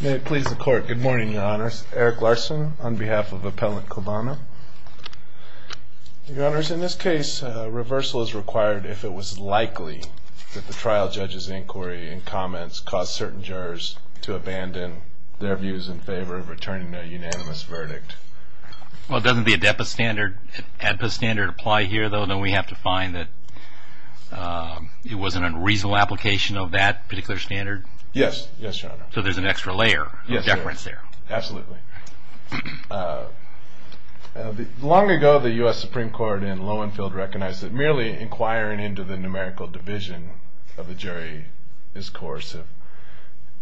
May it please the Court. Good morning, Your Honors. Eric Larson on behalf of Appellant Clavano. Your Honors, in this case, reversal is required if it was likely that the trial judge's inquiry and comments caused certain jurors to abandon their views in favor of returning a unanimous verdict. Well, doesn't the ADEPA standard apply here, though? Don't we have to find that it wasn't a reasonable application of that particular standard? Yes, Your Honor. So there's an extra layer of deference there. Absolutely. Long ago, the U.S. Supreme Court in Lowenfield recognized that merely inquiring into the numerical division of the jury is coercive.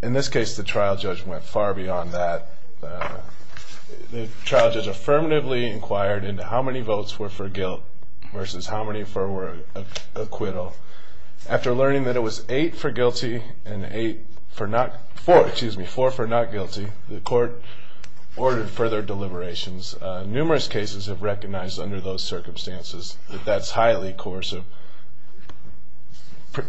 In this case, the trial judge went far beyond that. The trial judge affirmatively inquired into how many votes were for guilt versus how many for acquittal. After learning that it was four for not guilty, the Court ordered further deliberations. Numerous cases have recognized under those circumstances that that's highly coercive.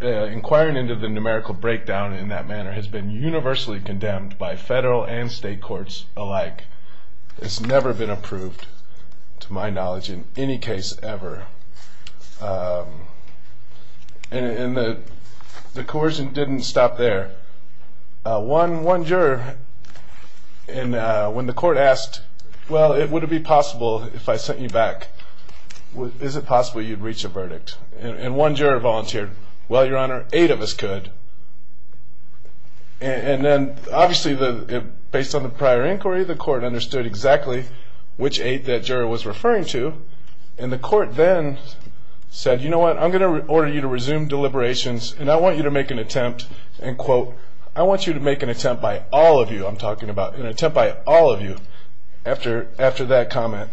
Inquiring into the numerical breakdown in that manner has been universally condemned by federal and state courts alike. It's never been approved, to my knowledge, in any case ever. And the coercion didn't stop there. One juror, when the Court asked, well, would it be possible if I sent you back, is it possible you'd reach a verdict? And one juror volunteered, well, Your Honor, eight of us could. And then, obviously, based on the prior inquiry, the Court understood exactly which eight that juror was referring to. And the Court then said, you know what, I'm going to order you to resume deliberations, and I want you to make an attempt, and quote, I want you to make an attempt by all of you, I'm talking about, an attempt by all of you, after that comment.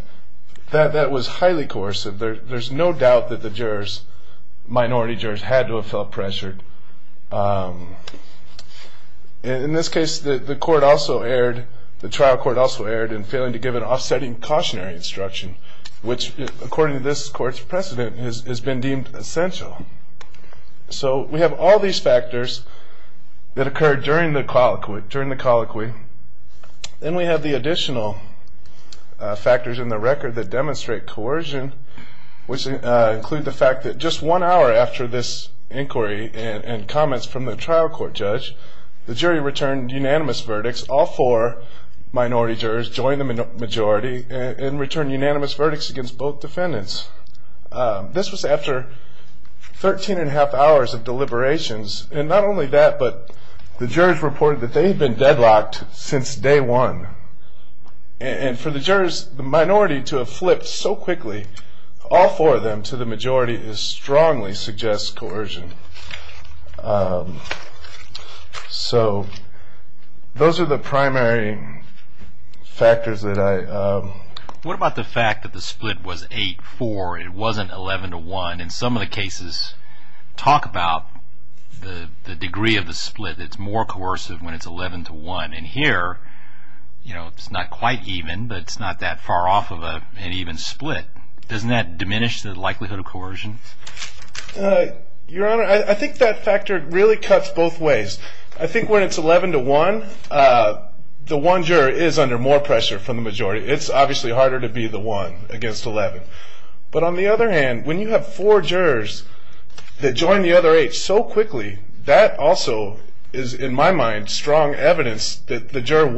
That was highly coercive. There's no doubt that the jurors, minority jurors, had to have felt pressured. In this case, the Court also erred, the trial Court also erred, in failing to give an offsetting cautionary instruction, which, according to this Court's precedent, has been deemed essential. So we have all these factors that occurred during the colloquy. Then we have the additional factors in the record that demonstrate coercion, which include the fact that just one hour after this inquiry and comments from the trial Court judge, the jury returned unanimous verdicts. All four minority jurors joined the majority and returned unanimous verdicts against both defendants. This was after 13 1⁄2 hours of deliberations. And not only that, but the jurors reported that they had been deadlocked since day one. And for the jurors, the minority to have flipped so quickly, all four of them, to the majority, strongly suggests coercion. So those are the primary factors that I. What about the fact that the split was 8-4, it wasn't 11-1? In some of the cases, talk about the degree of the split. It's more coercive when it's 11-1. And here, it's not quite even, but it's not that far off of an even split. Doesn't that diminish the likelihood of coercion? Your Honor, I think that factor really cuts both ways. I think when it's 11-1, the one juror is under more pressure from the majority. It's obviously harder to be the one against 11. But on the other hand, when you have four jurors that join the other eight so quickly, that also is, in my mind, strong evidence that the jury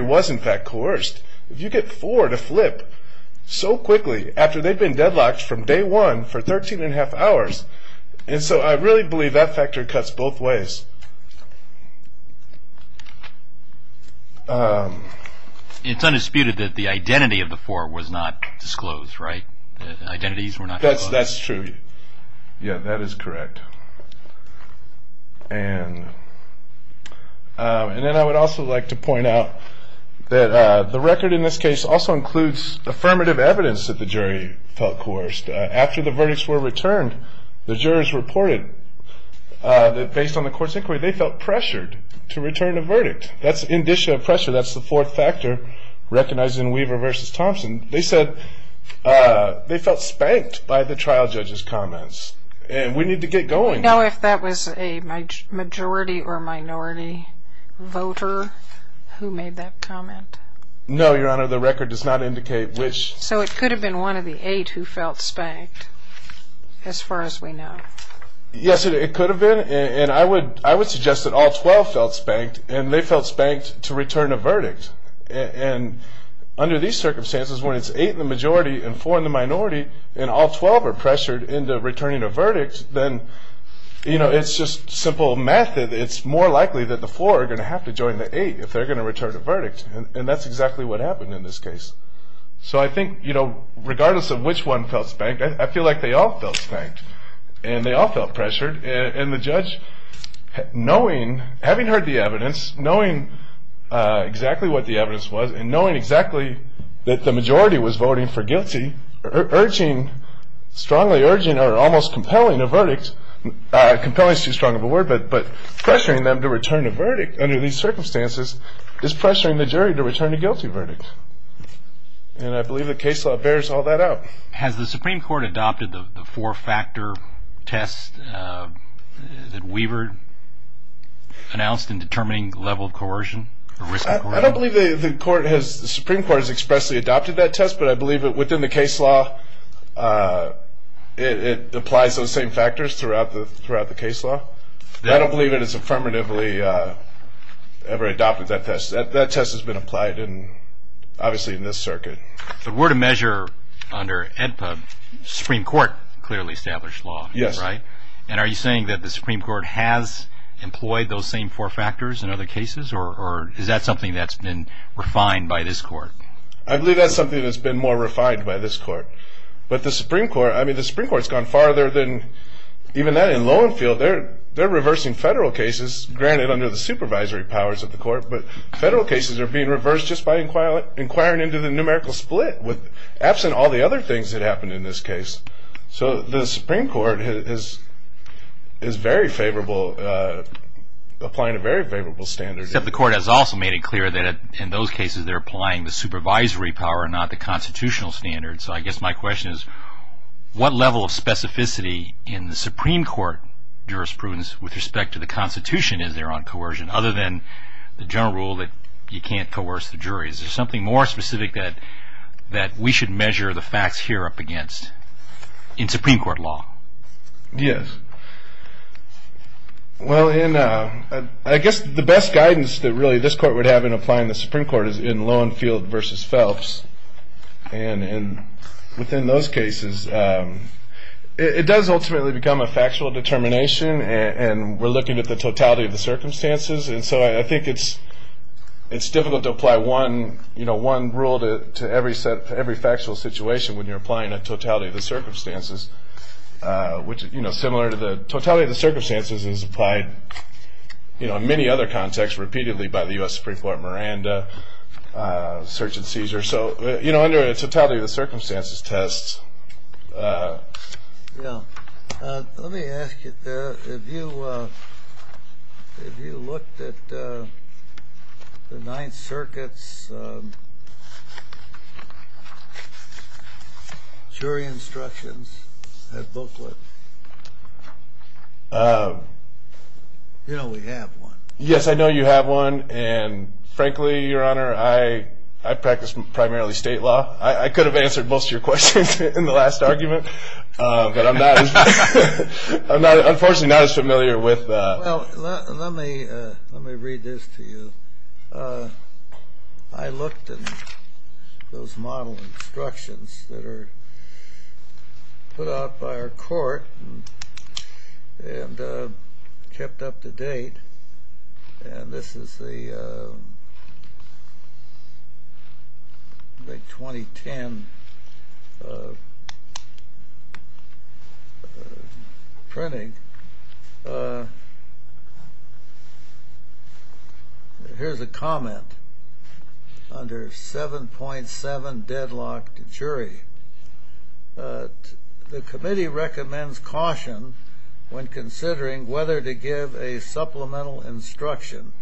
was in fact coerced. If you get four to flip so quickly after they've been deadlocked from day one for 13 1⁄2 hours, and so I really believe that factor cuts both ways. It's undisputed that the identity of the four was not disclosed, right? Identities were not disclosed. That's true. Yeah, that is correct. And then I would also like to point out that the record in this case also includes affirmative evidence that the jury felt coerced. After the verdicts were returned, the jurors reported that based on the court's inquiry, they felt pressured to return a verdict. That's indicia of pressure. That's the fourth factor recognized in Weaver v. Thompson. They said they felt spanked by the trial judge's comments. And we need to get going. I don't know if that was a majority or minority voter who made that comment. No, Your Honor, the record does not indicate which. So it could have been one of the eight who felt spanked as far as we know. Yes, it could have been, and I would suggest that all 12 felt spanked, and they felt spanked to return a verdict. And under these circumstances, when it's eight in the majority and four in the minority, and all 12 are pressured into returning a verdict, then, you know, it's just simple method. It's more likely that the four are going to have to join the eight if they're going to return a verdict, and that's exactly what happened in this case. So I think, you know, regardless of which one felt spanked, I feel like they all felt spanked, and they all felt pressured. And the judge, knowing, having heard the evidence, knowing exactly what the evidence was and knowing exactly that the majority was voting for guilty, urging, strongly urging, or almost compelling a verdict, compelling is too strong of a word, but pressuring them to return a verdict under these circumstances is pressuring the jury to return a guilty verdict. And I believe the case law bears all that out. Has the Supreme Court adopted the four-factor test that Weaver announced in determining the level of coercion? I don't believe the Supreme Court has expressly adopted that test, but I believe within the case law it applies those same factors throughout the case law. I don't believe it is affirmatively ever adopted that test. That test has been applied, obviously, in this circuit. The word of measure under AEDPA, Supreme Court clearly established law, right? Yes. And are you saying that the Supreme Court has employed those same four factors in other cases, or is that something that's been refined by this court? I believe that's something that's been more refined by this court. But the Supreme Court, I mean, the Supreme Court's gone farther than even that in Lowenfield. They're reversing federal cases, granted, under the supervisory powers of the court, but federal cases are being reversed just by inquiring into the numerical split, absent all the other things that happened in this case. So the Supreme Court is very favorable, applying a very favorable standard. Except the court has also made it clear that in those cases they're applying the supervisory power, not the constitutional standard. So I guess my question is what level of specificity in the Supreme Court jurisprudence with respect to the Constitution is there on coercion, other than the general rule that you can't coerce the jury? Is there something more specific that we should measure the facts here up against in Supreme Court law? Yes. Well, I guess the best guidance that really this court would have in applying the Supreme Court is in Lowenfield versus Phelps. And within those cases, it does ultimately become a factual determination, and we're looking at the totality of the circumstances. And so I think it's difficult to apply one rule to every factual situation when you're applying a totality of the circumstances, which is similar to the totality of the circumstances as applied in many other contexts repeatedly by the U.S. Supreme Court, Miranda, search and seizure. So under a totality of the circumstances test. Yeah. Let me ask you, if you looked at the Ninth Circuit's jury instructions booklet, you know we have one. Yes, I know you have one. And frankly, Your Honor, I practice primarily state law. I could have answered most of your questions in the last argument, but I'm unfortunately not as familiar with. Well, let me read this to you. I looked at those model instructions that are put out by our court and kept up to date. And this is the 2010 printing. Here's a comment under 7.7 deadlocked jury. The committee recommends caution when considering whether to give a supplemental instruction,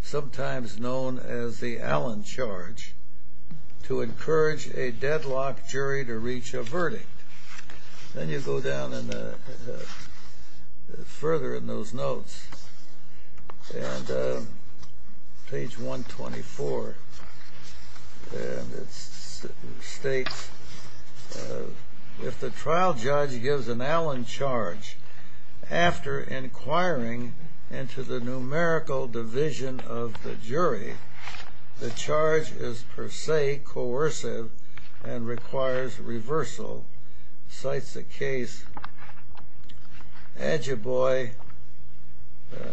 sometimes known as the Allen charge, to encourage a deadlocked jury to reach a verdict. Then you go down further in those notes, page 124, and it states, if the trial judge gives an Allen charge after inquiring into the numerical division of the jury, the charge is per se coercive and requires reversal, cites the case Agiboy,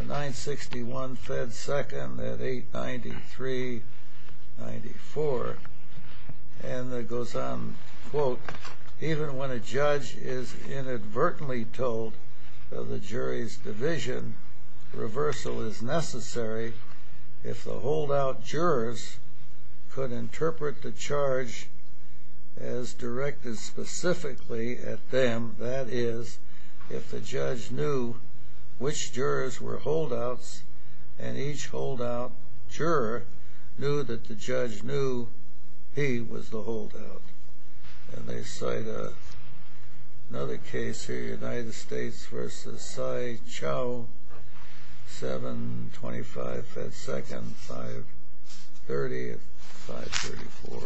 961 Fed 2nd at 893-94. And it goes on, quote, even when a judge is inadvertently told of the jury's division, reversal is necessary if the holdout jurors could interpret the charge as directed specifically at them, that is, if the judge knew which jurors were holdouts, and each holdout juror knew that the judge knew he was the holdout. And they cite another case here, United States v. Tsai Chou, 725 Fed 2nd, 530-534.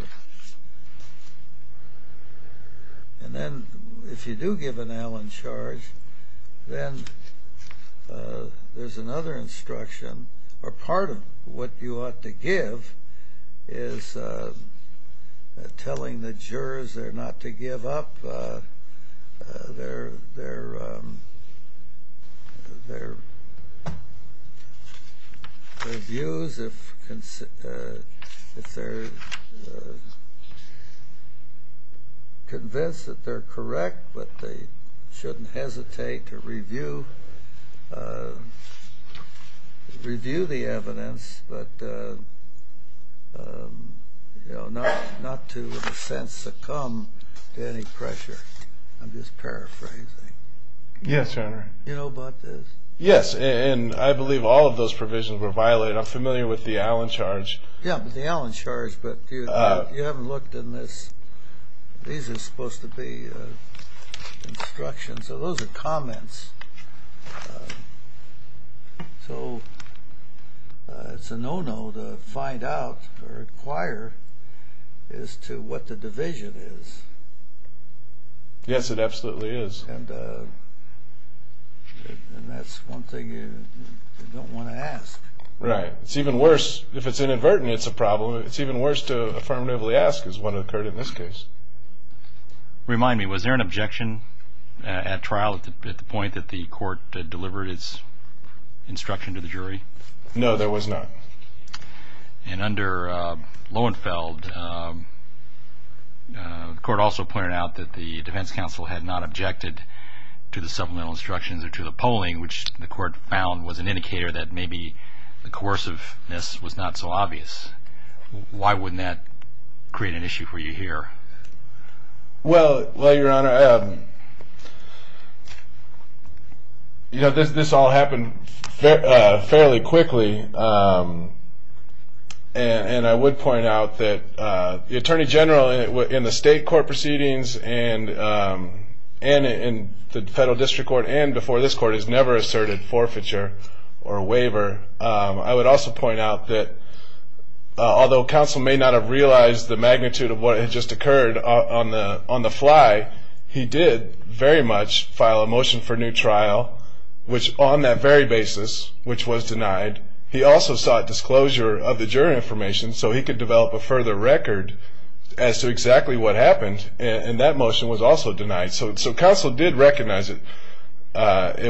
And then if you do give an Allen charge, then there's another instruction, or part of what you ought to give is telling the jurors they're not to give up their views, if they're convinced that they're correct but they shouldn't hesitate to review, review the evidence, but not to, in a sense, succumb to any pressure. I'm just paraphrasing. Yes, Your Honor. You know about this? Yes, and I believe all of those provisions were violated. I'm familiar with the Allen charge. Yeah, the Allen charge, but you haven't looked in this. These are supposed to be instructions. So those are comments. So it's a no-no to find out or inquire as to what the division is. Yes, it absolutely is. And that's one thing you don't want to ask. Right. It's even worse if it's inadvertently it's a problem. It's even worse to affirmatively ask is what occurred in this case. Remind me, was there an objection at trial at the point that the court delivered its instruction to the jury? No, there was not. And under Loewenfeld, the court also pointed out that the defense counsel had not objected to the supplemental instructions or to the polling, which the court found was an indicator that maybe the coerciveness was not so obvious. Why wouldn't that create an issue for you here? Well, Your Honor, this all happened fairly quickly. And I would point out that the attorney general in the state court proceedings and in the federal district court and before this court has never asserted forfeiture or a waiver. I would also point out that although counsel may not have realized the magnitude of what had just occurred on the fly, he did very much file a motion for new trial, which on that very basis, which was denied, he also sought disclosure of the jury information so he could develop a further record as to exactly what happened. And that motion was also denied. So counsel did recognize it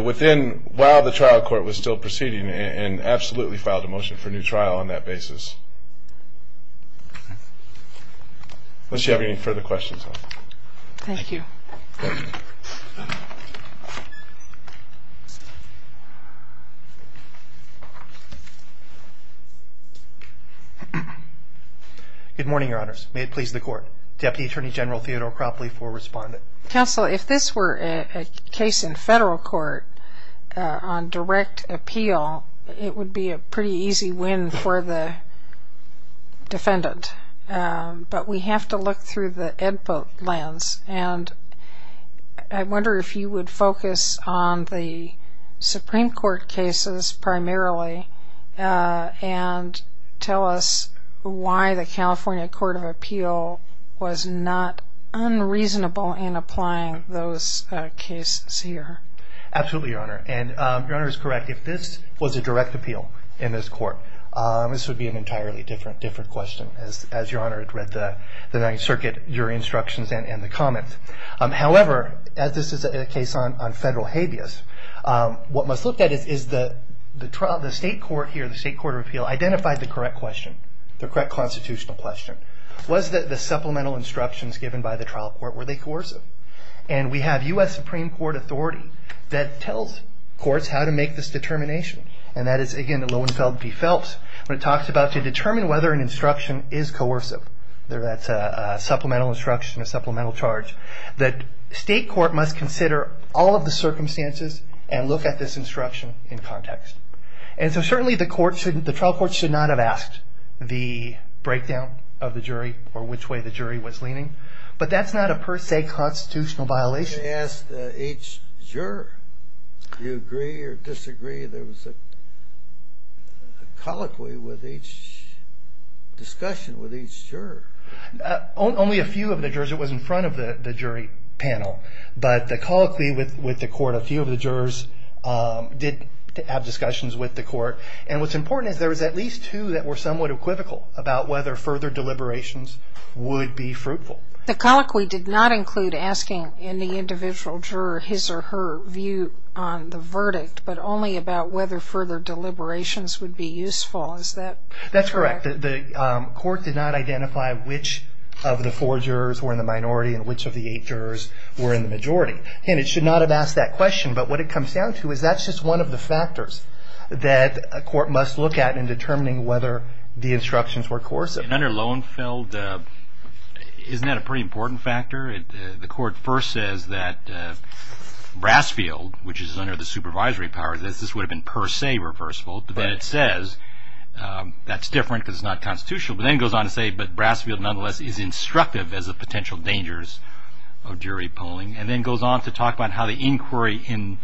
within while the trial court was still proceeding and absolutely filed a motion for new trial on that basis. Unless you have any further questions. Thank you. Good morning, Your Honors. May it please the court. Deputy Attorney General Theodore Cropley for Respondent. Counsel, if this were a case in federal court on direct appeal, it would be a pretty easy win for the defendant. But we have to look through the input lens. And I wonder if you would focus on the Supreme Court cases primarily and tell us why the California Court of Appeal was not unreasonable in applying those cases here. Absolutely, Your Honor. And Your Honor is correct. If this was a direct appeal in this court, this would be an entirely different question. As Your Honor had read the Ninth Circuit, your instructions and the comments. However, as this is a case on federal habeas, what must look at is the state court here, the state court of appeal, identified the correct question, the correct constitutional question. Was the supplemental instructions given by the trial court, were they coercive? And we have U.S. Supreme Court authority that tells courts how to make this determination. And that is, again, the Lohenfeld v. Phelps, when it talks about to determine whether an instruction is coercive. That's a supplemental instruction, a supplemental charge. The state court must consider all of the circumstances and look at this instruction in context. And so certainly the trial court should not have asked the breakdown of the jury or which way the jury was leaning. But that's not a per se constitutional violation. The question asked each juror, do you agree or disagree? There was a colloquy with each discussion with each juror. Only a few of the jurors, it was in front of the jury panel. But the colloquy with the court, a few of the jurors did have discussions with the court. And what's important is there was at least two that were somewhat equivocal about whether further deliberations would be fruitful. The colloquy did not include asking any individual juror his or her view on the verdict, but only about whether further deliberations would be useful. Is that correct? That's correct. The court did not identify which of the four jurors were in the minority and which of the eight jurors were in the majority. And it should not have asked that question. But what it comes down to is that's just one of the factors that a court must look at in determining whether the instructions were coercive. And under Lowenfeld, isn't that a pretty important factor? The court first says that Brasfield, which is under the supervisory power, this would have been per se reversible. But then it says that's different because it's not constitutional. But then it goes on to say that Brasfield, nonetheless, is instructive as to the potential dangers of jury polling. And then it goes on to talk about how the inquiry in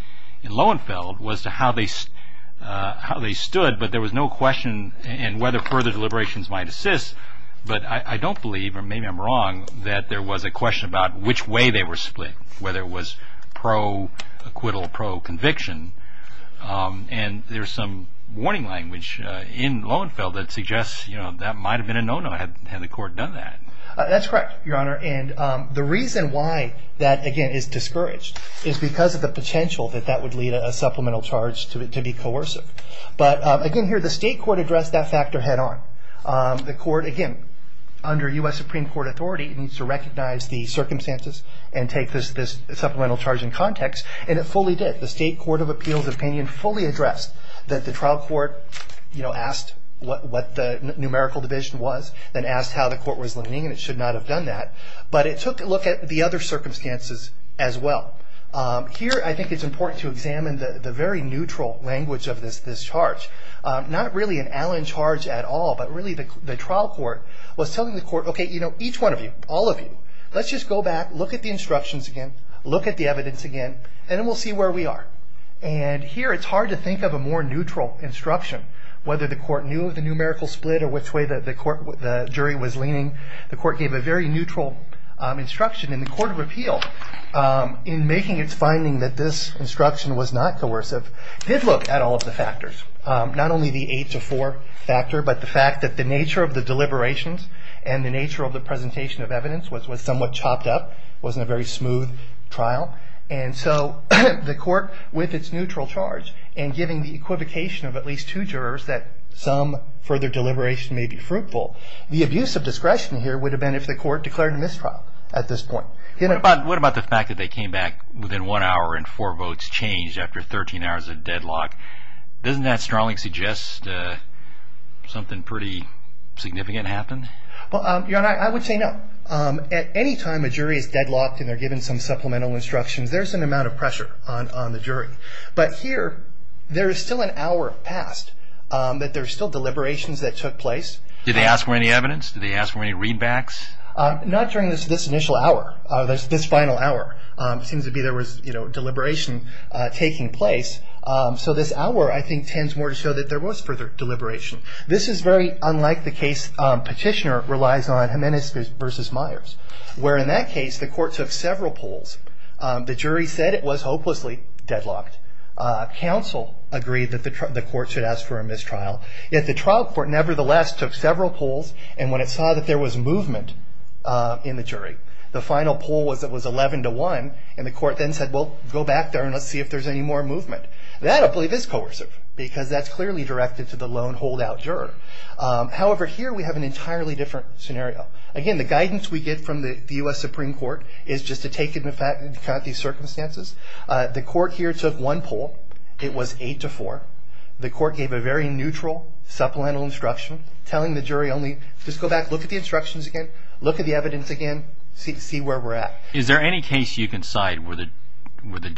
Lowenfeld was to how they stood, but there was no question in whether further deliberations might assist. But I don't believe, or maybe I'm wrong, that there was a question about which way they were split, whether it was pro-acquittal, pro-conviction. And there's some warning language in Lowenfeld that suggests that might have been a no-no had the court done that. That's correct, Your Honor. And the reason why that, again, is discouraged is because of the potential that that would lead a supplemental charge to be coercive. But again here, the state court addressed that factor head-on. The court, again, under U.S. Supreme Court authority, needs to recognize the circumstances and take this supplemental charge in context, and it fully did. The state court of appeals opinion fully addressed that the trial court asked what the numerical division was, then asked how the court was limiting, and it should not have done that. But it took a look at the other circumstances as well. Here I think it's important to examine the very neutral language of this charge. Not really an Allen charge at all, but really the trial court was telling the court, okay, you know, each one of you, all of you, let's just go back, look at the instructions again, look at the evidence again, and then we'll see where we are. And here it's hard to think of a more neutral instruction, whether the court knew the numerical split or which way the jury was leaning. The court gave a very neutral instruction. And the court of appeal, in making its finding that this instruction was not coercive, did look at all of the factors. Not only the eight to four factor, but the fact that the nature of the deliberations and the nature of the presentation of evidence was somewhat chopped up. It wasn't a very smooth trial. And so the court, with its neutral charge, and giving the equivocation of at least two jurors that some further deliberation may be fruitful, the abuse of discretion here would have been if the court declared a mistrial at this point. What about the fact that they came back within one hour and four votes changed after 13 hours of deadlock? Doesn't that strongly suggest something pretty significant happened? Well, Your Honor, I would say no. At any time a jury is deadlocked and they're given some supplemental instructions, there's an amount of pressure on the jury. But here, there is still an hour passed, that there's still deliberations that took place. Did they ask for any evidence? Did they ask for any readbacks? Not during this initial hour, this final hour. It seems to be there was deliberation taking place. So this hour, I think, tends more to show that there was further deliberation. This is very unlike the case Petitioner relies on, Jimenez v. Myers, where in that case the court took several polls. The jury said it was hopelessly deadlocked. Counsel agreed that the court should ask for a mistrial. Yet the trial court nevertheless took several polls and when it saw that there was movement in the jury, the final poll was 11 to 1, and the court then said, well, go back there and let's see if there's any more movement. That, I believe, is coercive because that's clearly directed to the lone holdout juror. However, here we have an entirely different scenario. Again, the guidance we get from the U.S. Supreme Court is just to take into account these circumstances. The court here took one poll. It was 8 to 4. The court gave a very neutral supplemental instruction telling the jury only just go back, look at the instructions again, look at the evidence again, see where we're at. Is there any case you can cite where the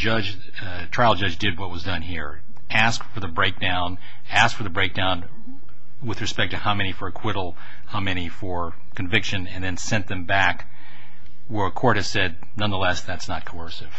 trial judge did what was done here, asked for the breakdown, asked for the breakdown with respect to how many for acquittal, how many for conviction, and then sent them back where a court has said, nonetheless, that's not coercive?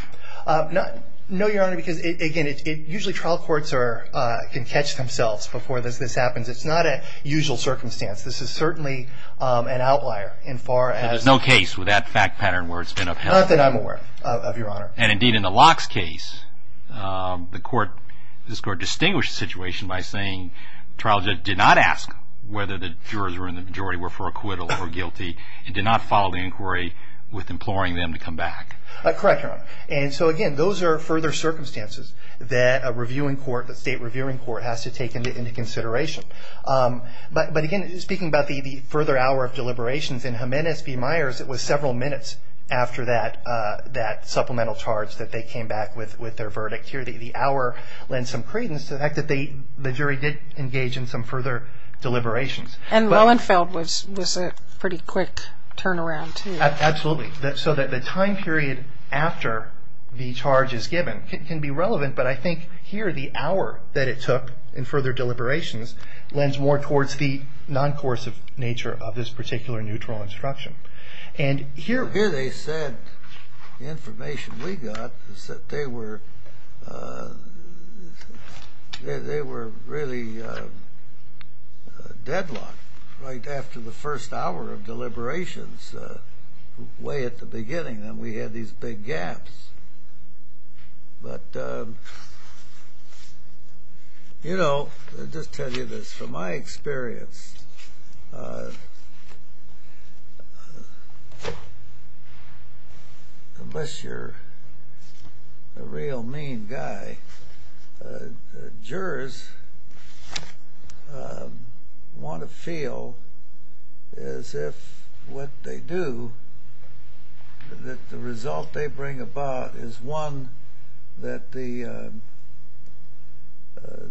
No, Your Honor, because again, usually trial courts can catch themselves before this happens. It's not a usual circumstance. This is certainly an outlier. There's no case with that fact pattern where it's been upheld? Not that I'm aware of, Your Honor. Indeed, in the Locks case, this court distinguished the situation by saying the trial judge did not ask whether the jurors and the majority were for acquittal or guilty and did not follow the inquiry with imploring them to come back. Correct, Your Honor. Again, those are further circumstances that a state reviewing court has to take into consideration. But again, speaking about the further hour of deliberations, in Jimenez v. Myers, it was several minutes after that supplemental charge that they came back with their verdict. Here, the hour lends some credence to the fact that the jury did engage in some further deliberations. And Lohenfeld was a pretty quick turnaround, too. Absolutely. So that the time period after the charge is given can be relevant, but I think here the hour that it took in further deliberations lends more towards the non-coercive nature of this particular neutral instruction. Here they said the information we got is that they were really deadlocked right after the first hour of deliberations, way at the beginning, and we had these big gaps. But, you know, I'll just tell you this. From my experience, unless you're a real mean guy, jurors want to feel as if what they do, that the result they bring about is one that the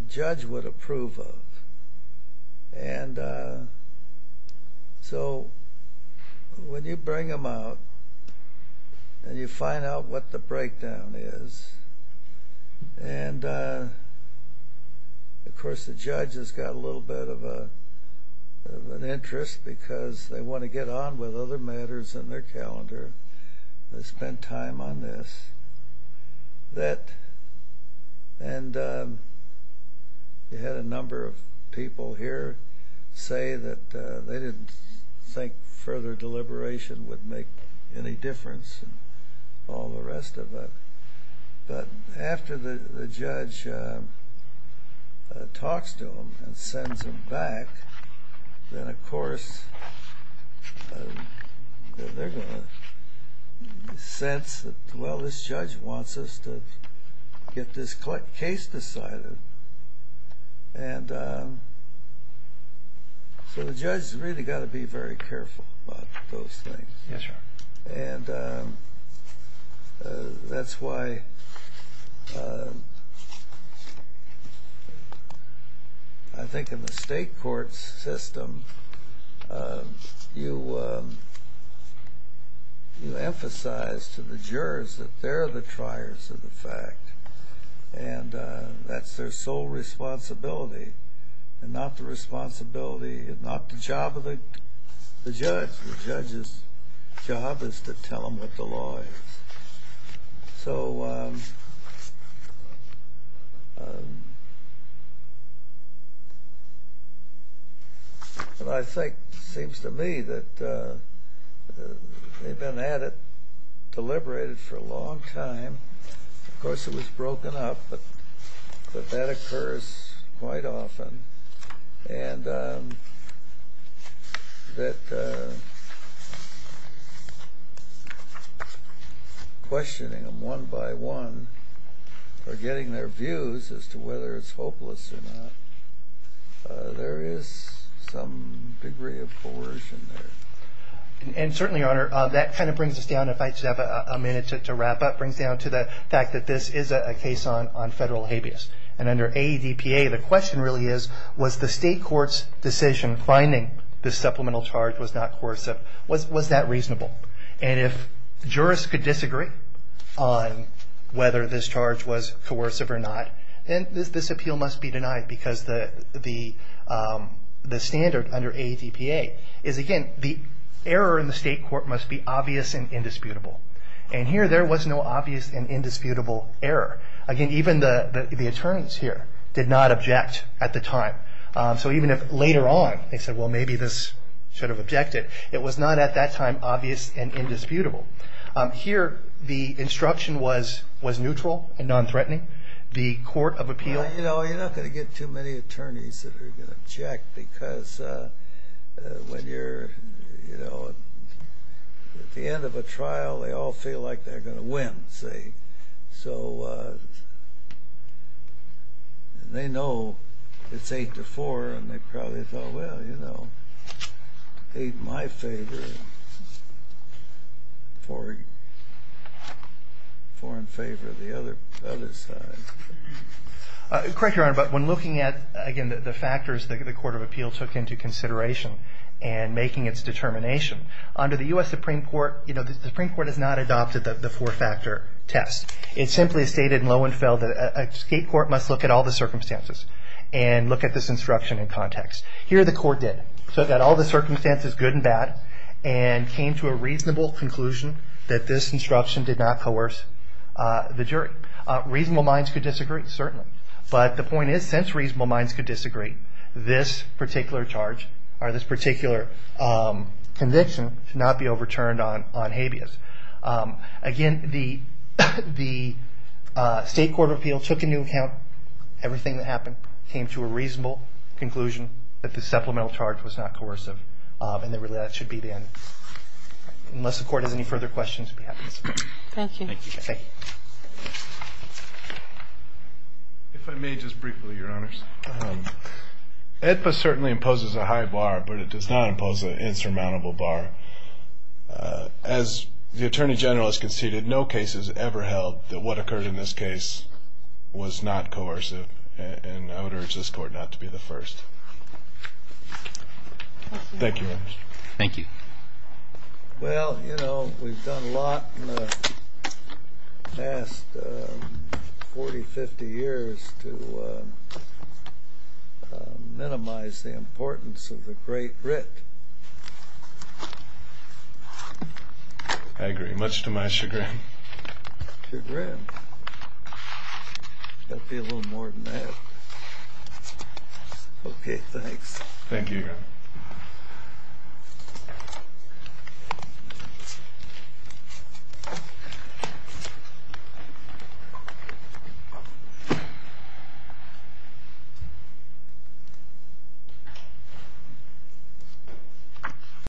judge would approve of. And so when you bring them out and you find out what the breakdown is, and of course the judge has got a little bit of an interest because they want to get on with other matters in their calendar. They spend time on this. And you had a number of people here say that they didn't think further deliberation would make any difference and all the rest of it. But after the judge talks to them and sends them back, then of course they're going to sense that, well, this judge wants us to get this case decided. And so the judge has really got to be very careful about those things. And that's why I think in the state court system, you emphasize to the jurors that they're the triers of the fact. And that's their sole responsibility, and not the responsibility, not the job of the judge. The judge's job is to tell them what the law is. So what I think, seems to me, that they've been at it, deliberated for a long time. Of course it was broken up, but that occurs quite often. And that questioning them one by one, or getting their views as to whether it's hopeless or not, there is some degree of coercion there. And certainly, Your Honor, that kind of brings us down, and if I just have a minute to wrap up, brings down to the fact that this is a case on federal habeas. And under AEDPA, the question really is, was the state court's decision finding this supplemental charge was not coercive, was that reasonable? And if jurors could disagree on whether this charge was coercive or not, then this appeal must be denied, because the standard under AEDPA is, again, the error in the state court must be obvious and indisputable. And here, there was no obvious and indisputable error. Again, even the attorneys here did not object at the time. So even if later on they said, well, maybe this should have objected, it was not at that time obvious and indisputable. Here, the instruction was neutral and non-threatening. The court of appeal... You know, you're not going to get too many attorneys that are going to object, because when you're at the end of a trial, they all feel like they're going to win, see? So they know it's 8-4, and they probably thought, well, you know, 8 in my favor, 4 in favor of the other side. Correct, Your Honor, but when looking at, again, the factors, the court of appeal took into consideration in making its determination, under the U.S. Supreme Court, you know, the Supreme Court has not adopted the four-factor test. It simply stated in Lowenfeld that a state court must look at all the circumstances and look at this instruction in context. Here, the court did. So it got all the circumstances, good and bad, and came to a reasonable conclusion that this instruction did not coerce the jury. Reasonable minds could disagree, certainly, but the point is, since reasonable minds could disagree, this particular charge or this particular conviction should not be overturned on habeas. Again, the state court of appeal took into account everything that happened, came to a reasonable conclusion that the supplemental charge was not coercive, and that really that should be the end. Unless the court has any further questions, I'll be happy to speak. Thank you. Thank you. If I may, just briefly, Your Honors. AEDPA certainly imposes a high bar, but it does not impose an insurmountable bar. As the Attorney General has conceded, no case has ever held that what occurred in this case was not coercive, and I would urge this court not to be the first. Thank you, Your Honors. Thank you. Well, you know, we've done a lot in the past 40, 50 years to minimize the importance of the Great Writ. I agree. Much to my chagrin. Chagrin? That would be a little more than that. Okay, thanks. Thank you again.